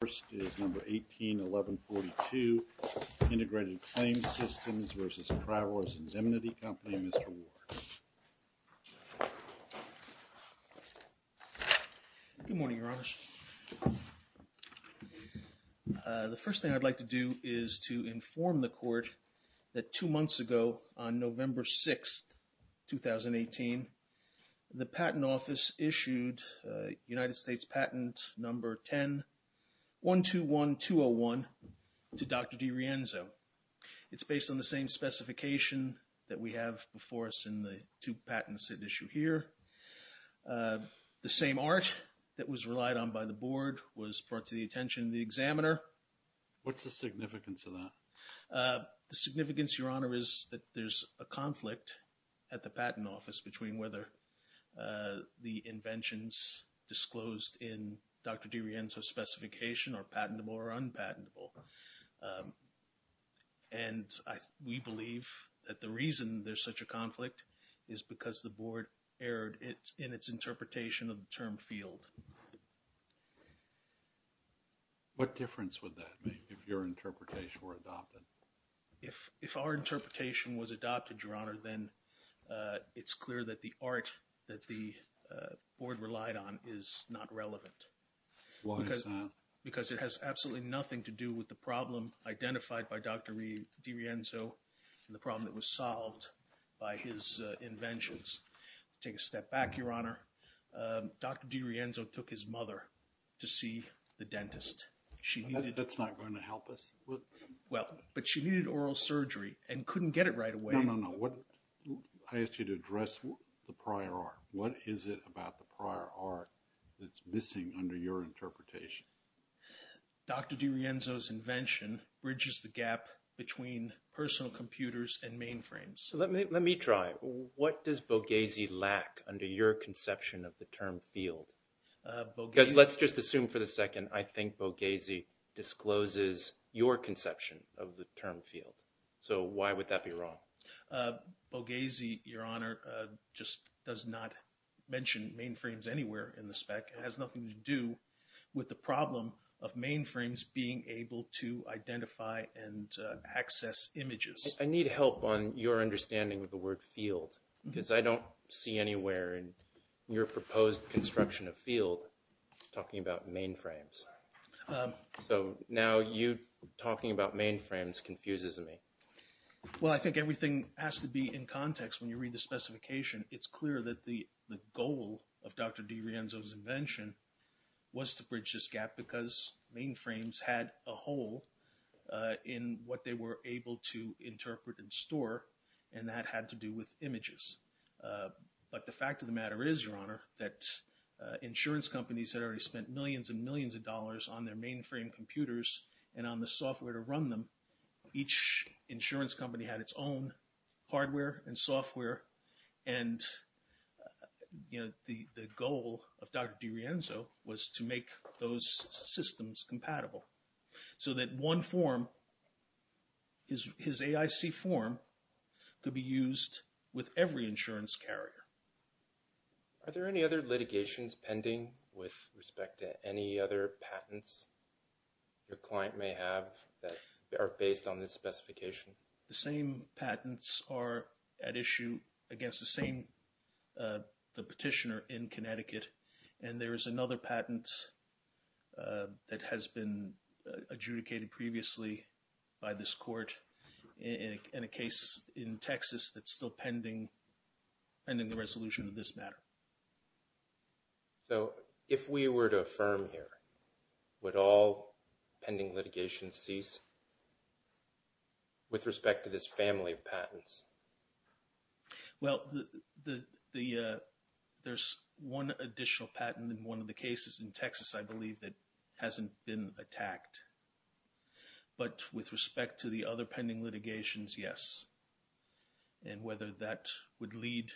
First is number 181142, Integrated Claims Systems versus Travelers Indemnity Company, Mr. Ward. Good morning, Your Honor. The first thing I'd like to do is to inform the court that two months ago on November 6, 2018, the Patent Office issued United States Patent Number 10-121201 to Dr. DiRienzo. It's based on the same specification that we have before us in the two patents at issue here. The same art that was relied on by the board was brought to the attention of the examiner. What's the significance of that? The significance, Your Honor, is that there's a conflict at the Patent Office between whether the inventions disclosed in Dr. DiRienzo's specification are patentable or unpatentable. And we believe that the reason there's such a conflict is because the board erred in its interpretation of the term field. What difference would that make if your interpretation were adopted? If, if our interpretation was adopted, Your Honor, then it's clear that the art that the board relied on is not relevant. Why is that? Because it has absolutely nothing to do with the problem identified by Dr. DiRienzo and the problem that was solved by his inventions. Take a step back, Your Honor. Dr. DiRienzo took his mother to see the dentist. She needed... That's not going to help us. Well, but she needed oral surgery and couldn't get it right away. No, no, no. I asked you to address the prior art. What is it about the prior art that's missing under your interpretation? Dr. DiRienzo's invention bridges the gap between personal computers and mainframes. Let me try. What does Boghazi lack under your conception of the term field? Let's just assume for the second, I think Boghazi discloses your conception of the term field. So why would that be wrong? Boghazi, Your Honor, just does not mention mainframes anywhere in the spec. It has nothing to do with the problem of mainframes being able to identify and access images. I need help on your understanding of the word field, because I don't see anywhere in your proposed construction of field talking about mainframes. So now you talking about mainframes confuses me. Well, I think everything has to be in context when you read the specification. It's clear that the goal of Dr. DiRienzo's invention was to bridge this gap because mainframes had a hole in what they were able to interpret and store. And that had to do with images. But the fact of the matter is, Your Honor, that insurance companies had already spent millions and millions of dollars on their mainframe computers and on the software to run them. Each insurance company had its own hardware and software. And the goal of Dr. DiRienzo was to make those systems compatible so that one form, his AIC form, could be used with every insurance carrier. Are there any other litigations pending with respect to any other patents your client may have that are based on this specification? The same patents are at issue against the same petitioner in Connecticut. And there is another patent that has been adjudicated previously by this court in a case in Texas that's still pending the resolution of this matter. So, if we were to affirm here, would all pending litigations cease with respect to this family of patents? Well, there's one additional patent in one of the cases in Texas, I believe, that hasn't been attacked. But with respect to the other pending litigations, yes. And whether that would lead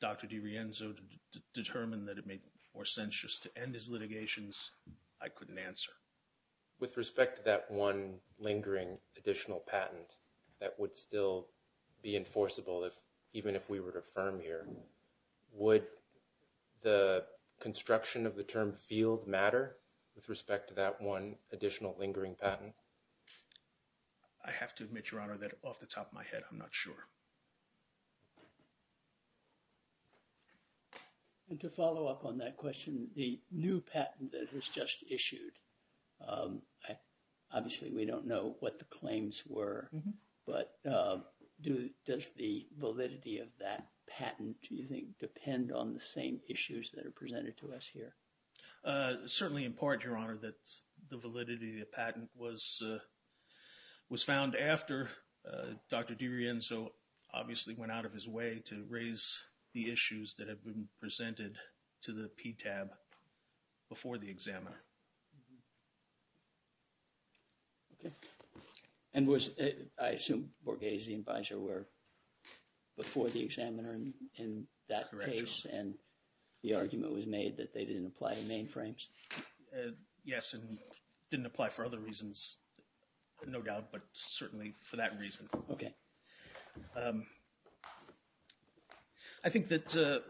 Dr. DiRienzo to determine that it made more sense just to end his litigations, I couldn't answer. With respect to that one lingering additional patent that would still be enforceable if even if we were to affirm here, would the construction of the term field matter with respect to that one additional lingering patent? I have to admit, Your Honor, that off the top of my head, I'm not sure. And to follow up on that question, the new patent that was just issued, obviously, we don't know what the claims were, but does the validity of that patent, do you think, depend on the same issues that are presented to us here? Certainly, in part, Your Honor, that the validity of the patent was found after Dr. DiRienzo obviously went out of his way to raise the issues that have been presented to the PTAB before the examiner. Okay. And was, I assume, Borghese and Biser were before the examiner in that case and the claims didn't apply in mainframes? Yes, and didn't apply for other reasons, no doubt, but certainly for that reason. Okay. I think that the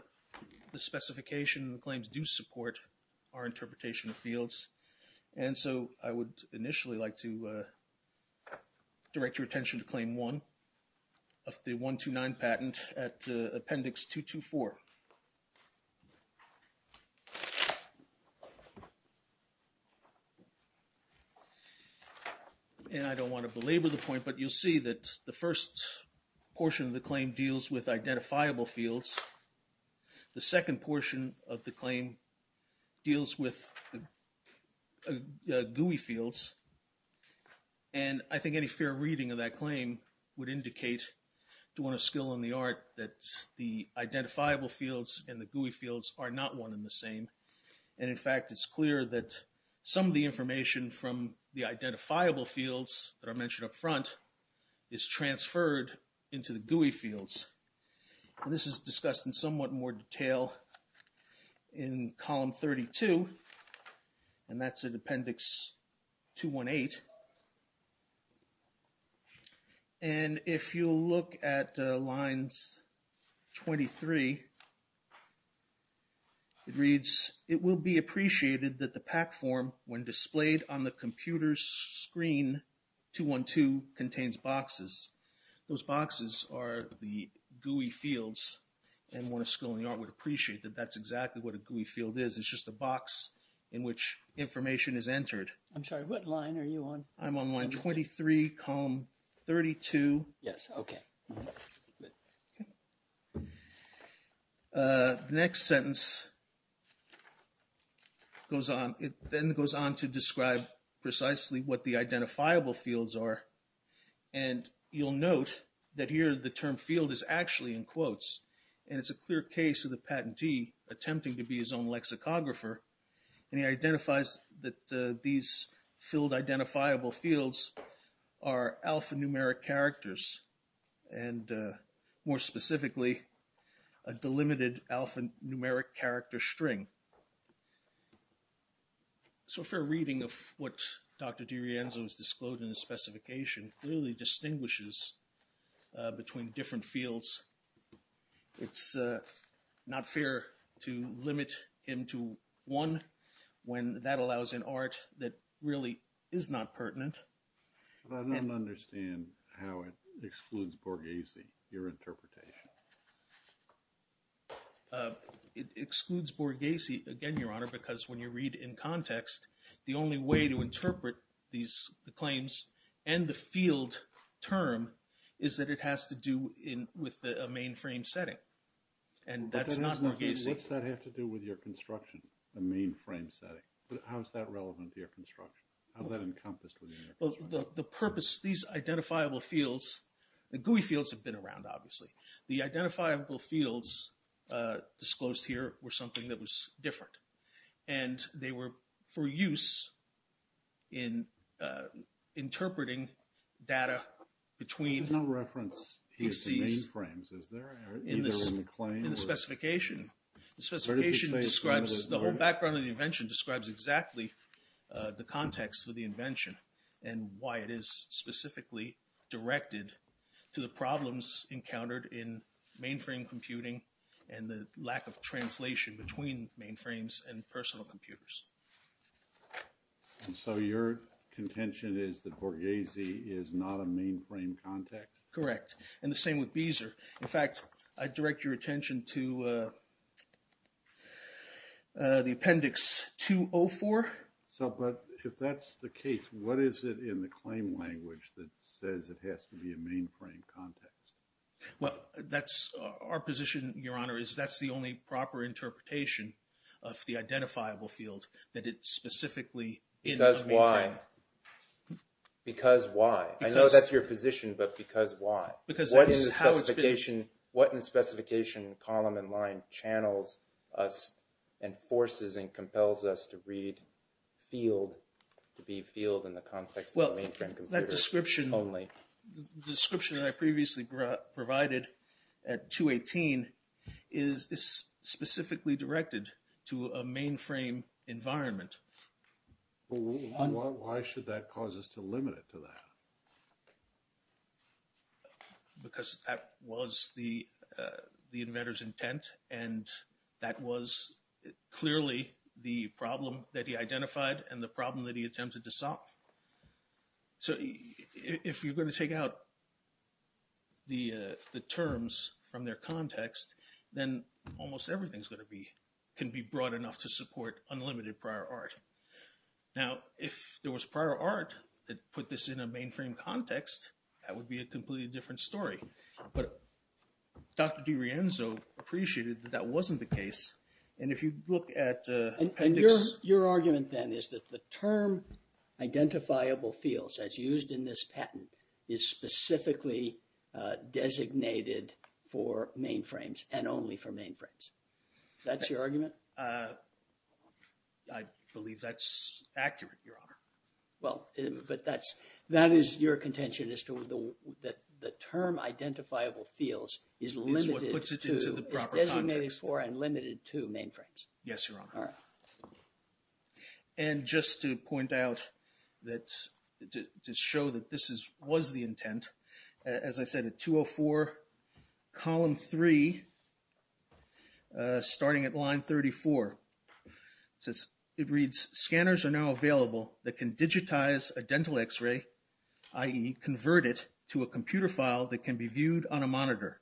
specification and the claims do support our interpretation of fields, and so I would initially like to direct your attention to Claim 1 of the 129 patent at Appendix 224. And I don't want to belabor the point, but you'll see that the first portion of the claim deals with identifiable fields. The second portion of the claim deals with GUI fields, and I think any fair reading of that claim would indicate, doing a skill in the art, that the identifiable fields and the GUI fields are not one and the same, and in fact it's clear that some of the information from the identifiable fields that I mentioned up front is transferred into the GUI fields. And this is discussed in somewhat more detail in Column 32, and that's at Appendix 218. And if you look at Lines 23, it reads, it will be appreciated that the PAC form, when displayed on the computer's screen, 212, contains boxes. Those boxes are the GUI fields, and one of skill in the art would appreciate that that's exactly what a GUI field is, it's just a box in which information is entered. I'm sorry, what line are you on? I'm on Line 23, Column 32. Yes, okay. Next sentence goes on, it then goes on to describe precisely what the identifiable fields are, and you'll note that here the term field is actually in quotes, and it's a clear case of the patentee attempting to be his own lexicographer, and he identifies that these field identifiable fields are alphanumeric characters, and more specifically, a delimited alphanumeric character string. So a fair reading of what Dr. DiRienzo has disclosed in his specification clearly distinguishes between different fields. It's not fair to limit him to one when that allows an art that really is not pertinent. But I don't understand how it excludes Borghese, your interpretation. It excludes Borghese, again, Your Honor, because when you read in context, the only way to is that it has to do with a mainframe setting, and that's not Borghese. What's that have to do with your construction, the mainframe setting? How is that relevant to your construction? How is that encompassed within your construction? The purpose, these identifiable fields, the GUI fields have been around, obviously. The identifiable fields disclosed here were something that was different, and they were for use in interpreting data between PCs in the specification. The whole background of the invention describes exactly the context for the invention and why it is specifically directed to the problems encountered in mainframe computing and the lack of translation between mainframes and personal computers. And so your contention is that Borghese is not a mainframe context? Correct. And the same with Beezer. In fact, I direct your attention to the Appendix 204. So, but if that's the case, what is it in the claim language that says it has to be a mainframe context? Well, that's our position, Your Honor, is that's the only proper interpretation of the description that I previously provided at 218 is specifically directed to a mainframe environment. Why should that cause us to limit it to that? Because that was the inventor's intent, and that was clearly the problem that he identified and the problem that he attempted to solve. So if you're going to take out the terms from their context, then almost everything's can be broad enough to support unlimited prior art. Now, if there was prior art that put this in a mainframe context, that would be a completely different story. But Dr. DiRienzo appreciated that that wasn't the case. And if you look at... And your argument then is that the term identifiable fields as used in this patent is specifically designated for mainframes and only for mainframes. That's your argument? I believe that's accurate, Your Honor. Well, but that is your contention as to the term identifiable fields is limited to... Is what puts it into the proper context. Is designated for and limited to mainframes. Yes, Your Honor. And just to point out that to show that this was the intent, as I said, at 204, column three, starting at line 34, it reads, scanners are now available that can digitize a dental x-ray, i.e. convert it to a computer file that can be viewed on a monitor.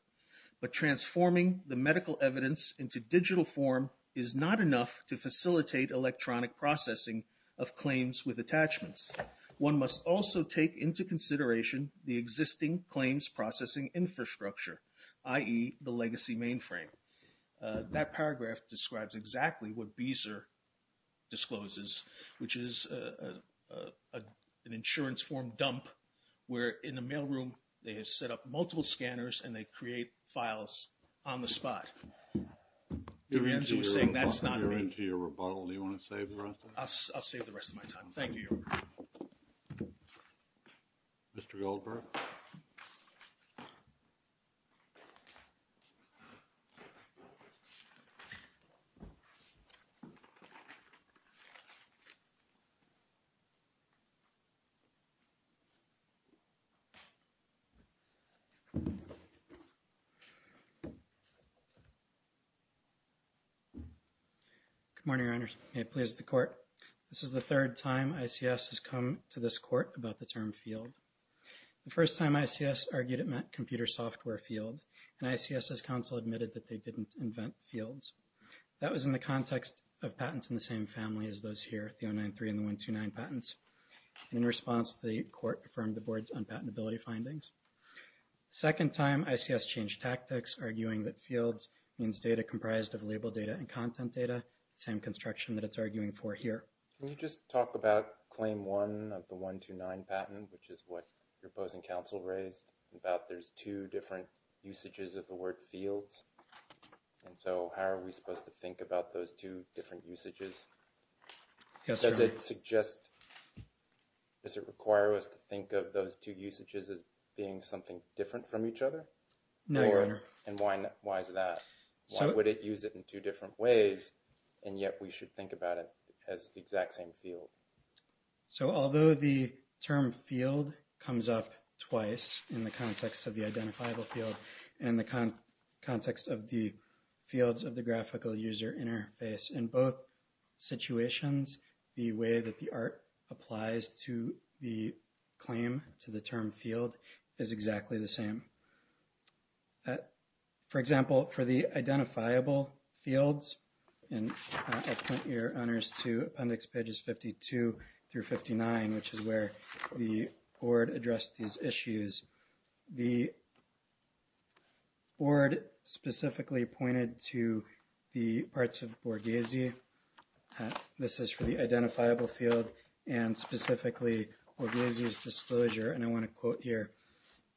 But transforming the medical evidence into digital form is not enough to facilitate electronic processing of claims with attachments. One must also take into consideration the existing claims processing infrastructure, i.e. the legacy mainframe. That paragraph describes exactly what Beezer discloses, which is an insurance form dump where in the mailroom, they have set up multiple scanners and they create files on the spot. Durienzo was saying that's not me. We're into your rebuttal. Do you want to save the rest of it? I'll save the rest of my time. Thank you, Your Honor. Mr. Goldberg? Good morning, Your Honor. May it please the court. This is the third time ICS has come to this court about the term field. The first time ICS argued it meant computer software field, and ICS's counsel admitted that they didn't invent fields. That was in the context of patents in the same family as those here, the 093 and the 129 patents. And in response, the court affirmed the board's unpatentability findings. The second time, ICS changed tactics, arguing that fields means data comprised of label data and content data, the same construction that it's arguing for here. Can you just talk about claim one of the 129 patent, which is what your opposing counsel raised about there's two different usages of the word fields? And so how are we supposed to think about those two different usages? Does it suggest, does it require us to think of those two usages as being something different from each other? No, Your Honor. And why is that? Why would it use it in two different ways? And yet we should think about it as the exact same field. So although the term field comes up twice in the context of the identifiable field and in the context of the fields of the graphical user interface, in both situations, the way that the art applies to the claim to the term field is exactly the same. For example, for the identifiable fields, and I'll point your honors to Appendix Pages 52 through 59, which is where the board addressed these issues. The board specifically pointed to the parts of Borghese, this is for the identifiable field and specifically Borghese's disclosure. And I want to quote here,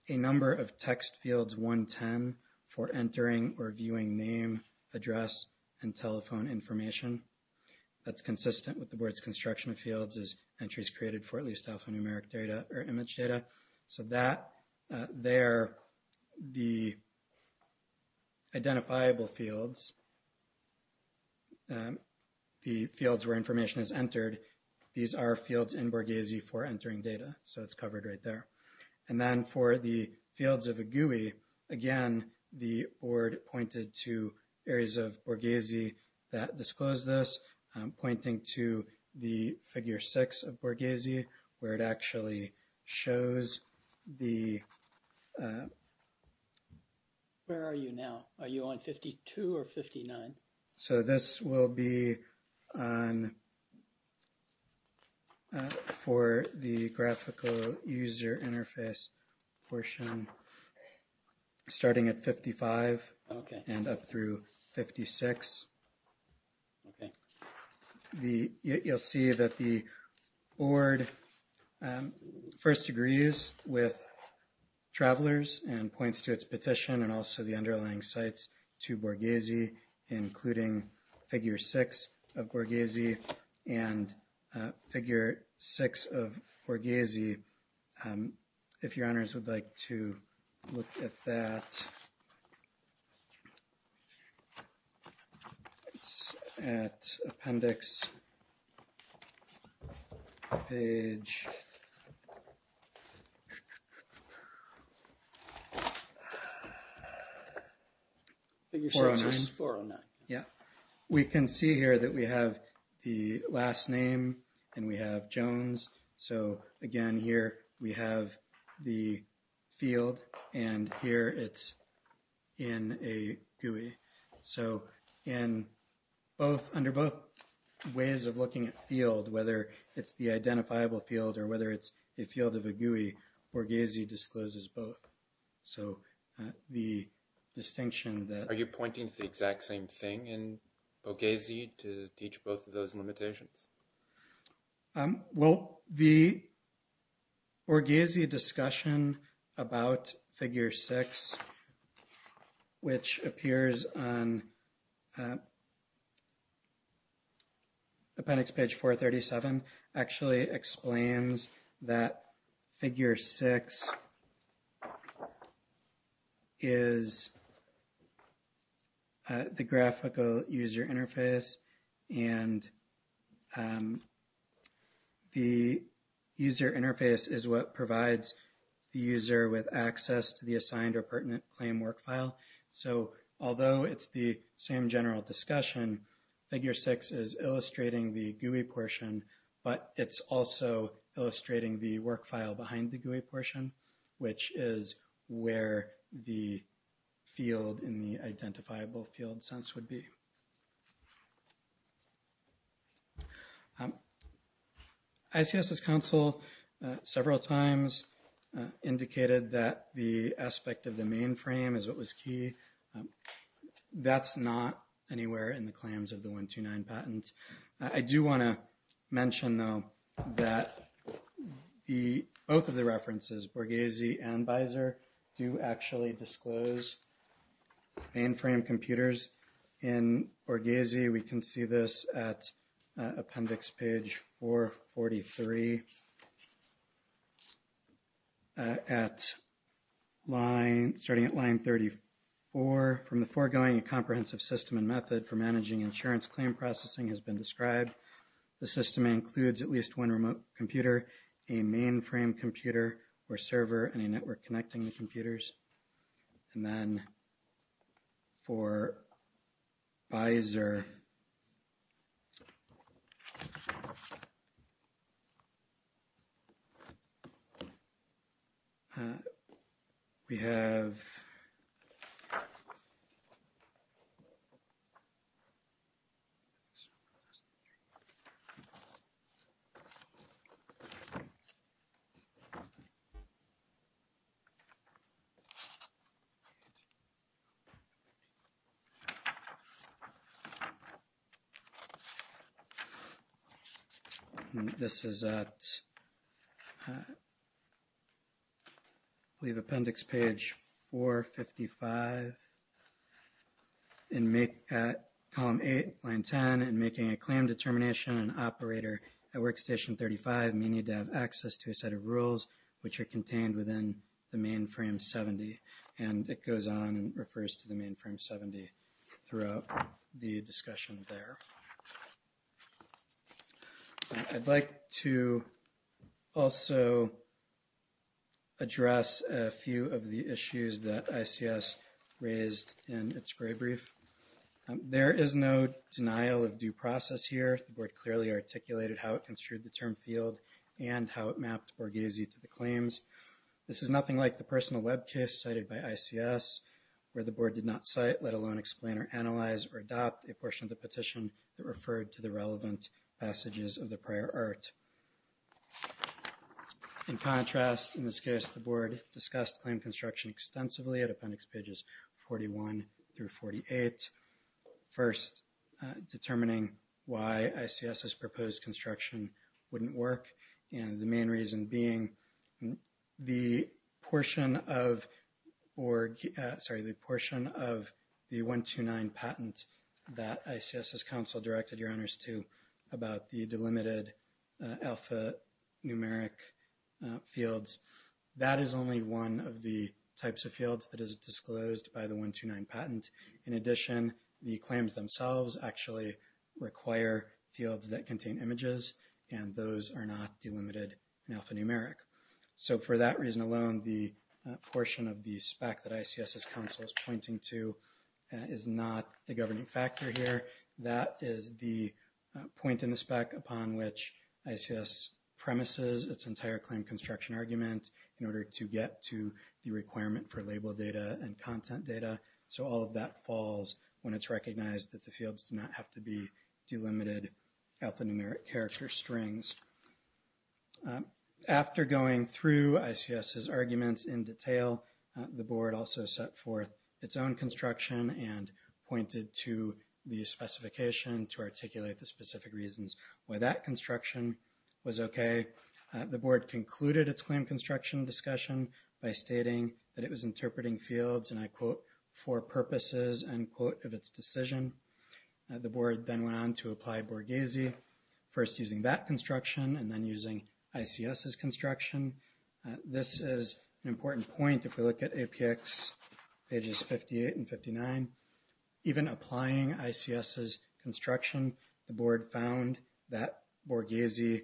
a number of text fields 110 for entering or viewing name, address, and telephone information. That's consistent with the board's construction of fields as entries created for at least alphanumeric data or image data. So that there, the identifiable fields, the fields where information is entered, these are fields in Borghese for entering data. So it's covered right there. And then for the fields of a GUI, again, the board pointed to areas of Borghese that disclose this, pointing to the figure six of Borghese, where it actually shows the... Where are you now? Are you on 52 or 59? So this will be for the graphical user interface portion, starting at 55 and up through 56. You'll see that the board first agrees with Travelers and points to its petition and also the underlying sites to Borghese, including figure six of Borghese and figure six of Borghese. And if your honors would like to look at that, at appendix page... Figure six is 409. Yeah. We can see here that we have the last name and we have Jones. So again, here we have the field and here it's in a GUI. So in both, under both ways of looking at field, whether it's the identifiable field or whether it's a field of a GUI, Borghese discloses both. So the distinction that... Are you pointing to the exact same thing in Borghese to teach both of those limitations? Well, the Borghese discussion about figure six, which appears on appendix page 437, actually explains that figure six is the graphical user interface. And the user interface is what provides the user with access to the assigned or pertinent claim work file. So although it's the same general discussion, figure six is illustrating the GUI portion, but it's also illustrating the work file behind the GUI portion, which is where the field in the identifiable field sense would be. ICS's counsel several times indicated that the aspect of the mainframe is what was key. That's not anywhere in the claims of the 129 patent. I do want to mention, though, that both of the references, Borghese and BISER, do actually disclose mainframe computers. In Borghese, we can see this at appendix page 443, starting at line 34. From the foregoing, a comprehensive system and method for managing insurance claim processing has been described. The system includes at least one remote computer, a mainframe computer or server, and a network connecting the computers. And then for BISER, we have appendix page 455 at column 8, line 10, and making a claim determination, an operator at workstation 35 may need to have access to a set of rules which are contained within the mainframe 70. And it goes on and refers to the mainframe 70 throughout the discussion there. I'd like to also address a few of the issues that ICS raised in its gray brief. There is no denial of due process here. The board clearly articulated how it construed the term field and how it mapped Borghese to the claims. This is nothing like the personal web case cited by ICS, where the board did not cite, let alone explain or analyze or adopt a portion of the petition that referred to the relevant passages of the prior art. In contrast, in this case, the board discussed claim construction extensively at appendix pages 41 through 48. First, determining why ICS's proposed construction wouldn't work. And the main reason being the portion of the 129 patent that ICS's council directed your honors to about the delimited alpha numeric fields. That is only one of the types of fields that is disclosed by the 129 patent. In addition, the claims themselves actually require fields that contain images, and those are not delimited and alphanumeric. So for that reason alone, the portion of the spec that ICS's council is pointing to is not the governing factor here. That is the point in the spec upon which ICS premises its entire claim construction argument in order to get to the requirement for label data and content data. So all of that falls when it's recognized that the fields do not have to be delimited alphanumeric character strings. After going through ICS's arguments in detail, the board also set forth its own construction and pointed to the specification to articulate the specific reasons why that construction was okay. The board concluded its claim construction discussion by stating that it was interpreting fields, and I quote, for purposes, end quote, of its decision. The board then went on to apply Borghese, first using that construction and then using ICS's construction. This is an important point if we look at APX pages 58 and 59. Even applying ICS's construction, the board found that Borghese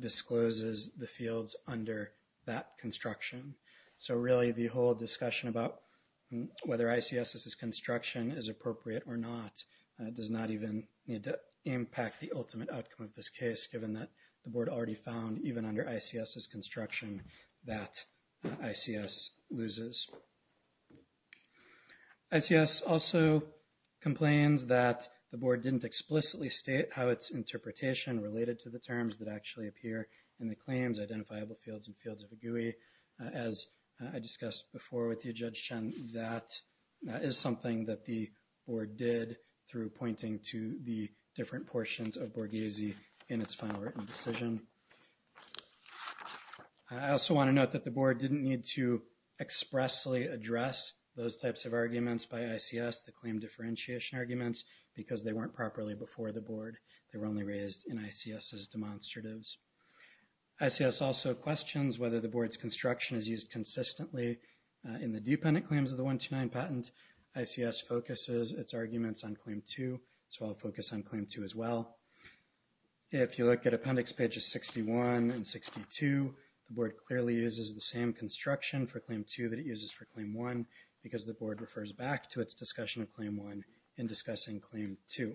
discloses the fields under that construction. So really, the whole discussion about whether ICS's construction is appropriate or not does not even need to impact the ultimate outcome of this case, given that the board already found, even under ICS's construction, that ICS loses. ICS also complains that the board didn't explicitly state how its interpretation related to the terms that actually appear in the claims, identifiable fields, and fields of a GUI. As I discussed before with you, Judge Chen, that is something that the board did through pointing to the different portions of Borghese in its final written decision. I also want to note that the board didn't need to expressly address those types of arguments by ICS, the claim differentiation arguments, because they weren't properly before the board. They were only raised in ICS's demonstratives. ICS also questions whether the board's construction is used consistently in the dependent claims of the 129 patent. ICS focuses its arguments on Claim 2, so I'll focus on Claim 2 as well. If you look at Appendix Pages 61 and 62, the board clearly uses the same construction for Claim 2 that it uses for Claim 1, because the board refers back to its discussion of Claim 1 in discussing Claim 2.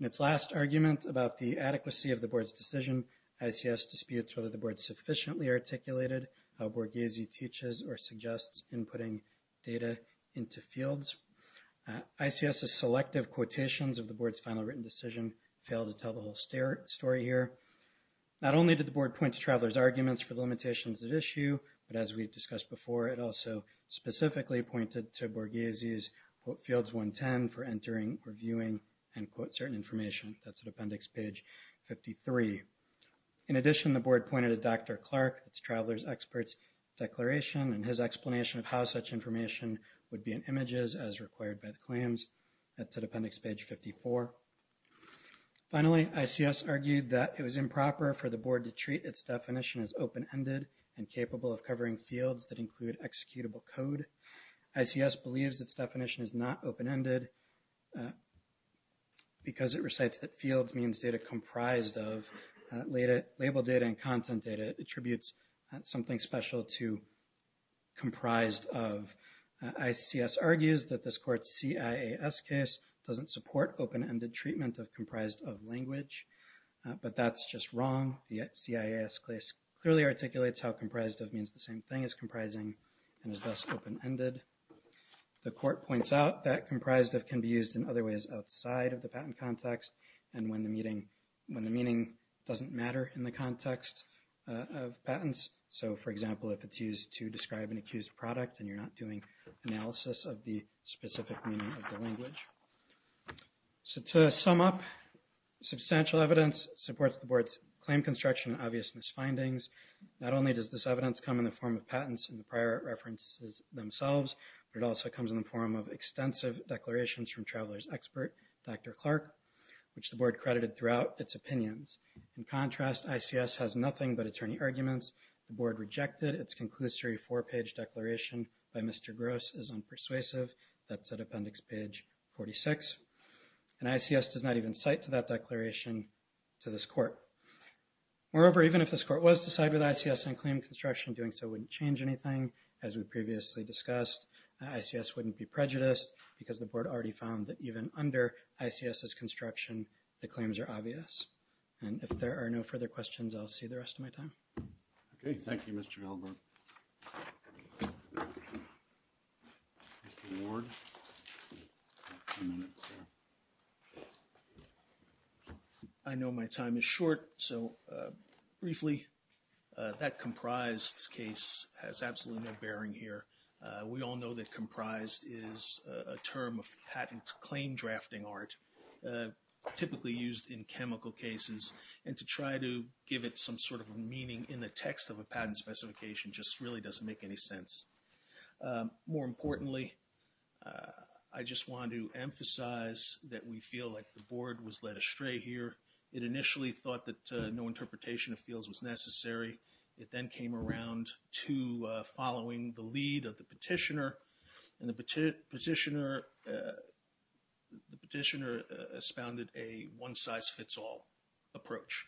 In its last argument about the adequacy of the board's decision, ICS disputes whether the board sufficiently articulated how Borghese teaches or suggests inputting data into fields. ICS's selective quotations of the board's final written decision fail to tell the whole story here. Not only did the board point to Traveler's arguments for the limitations at issue, but as we've discussed before, it also specifically pointed to Borghese's fields 110 for entering, reviewing, and certain information. That's at Appendix Page 53. In addition, the board pointed to Dr. Clark, its Traveler's Experts Declaration, and his explanation of how such information would be in images as required by the claims. That's at Appendix Page 54. Finally, ICS argued that it was improper for the board to treat its definition as open-ended and capable of covering fields that include executable code. ICS believes its definition is not open-ended because it recites that fields means data comprised of. Labeled data and content data attributes something special to comprised of. ICS argues that this court's CIAS case doesn't support open-ended treatment of comprised of language, but that's just wrong. The CIAS case clearly articulates how comprised of means the same thing as comprising and thus open-ended. The court points out that comprised of can be used in other ways outside of the patent context and when the meaning doesn't matter in the context of patents. So, for example, if it's used to describe an accused product and you're not doing analysis of the specific meaning of the language. To sum up, substantial evidence supports the board's claim construction and obvious misfindings. Not only does this evidence come in the form of patents and the prior references themselves, but it also comes in the form of extensive declarations from travelers expert, Dr. Clark, which the board credited throughout its opinions. In contrast, ICS has nothing but attorney arguments. The board rejected its conclusory four-page declaration by Mr. Gross is unpersuasive. That's at appendix page 46. And ICS does not even cite to that declaration to this court. Moreover, even if this court was to side with ICS and claim construction, doing so wouldn't change anything. As we previously discussed, ICS wouldn't be prejudiced because the board already found that even under ICS's construction, the claims are obvious. And if there are no further questions, I'll see the rest of my time. Okay. Thank you, Mr. Halberg. I know my time is short. So briefly, that comprised case has absolutely no bearing here. We all know that comprised is a term of patent claim drafting art, typically used in chemical cases. And to try to give it some sort of meaning in the text of a patent specification just really doesn't make any sense. More importantly, I just want to emphasize that we feel like the board was led astray here. It initially thought that no interpretation of fields was necessary. It then came around to following the lead of the petitioner. And the petitioner expounded a one-size-fits-all approach.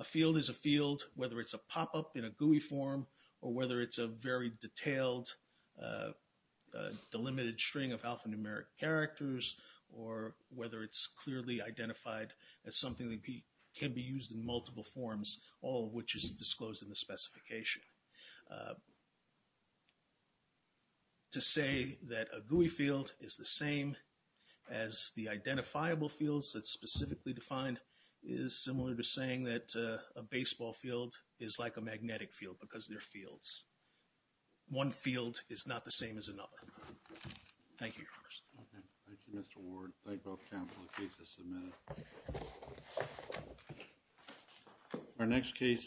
A field is a field, whether it's a pop-up in a GUI form or whether it's a very detailed, delimited string of alphanumeric characters, or whether it's clearly identified as something that can be used in multiple forms, all of which is disclosed in the specification. To say that a GUI field is the same as the identifiable fields that's specifically defined is similar to saying that a baseball field is like a magnetic field because they're fields. One field is not the same as another. Thank you, Your Honor. Okay. Thank you, Mr. Ward. Thank both counsel. The case is submitted. Our next case is number 10.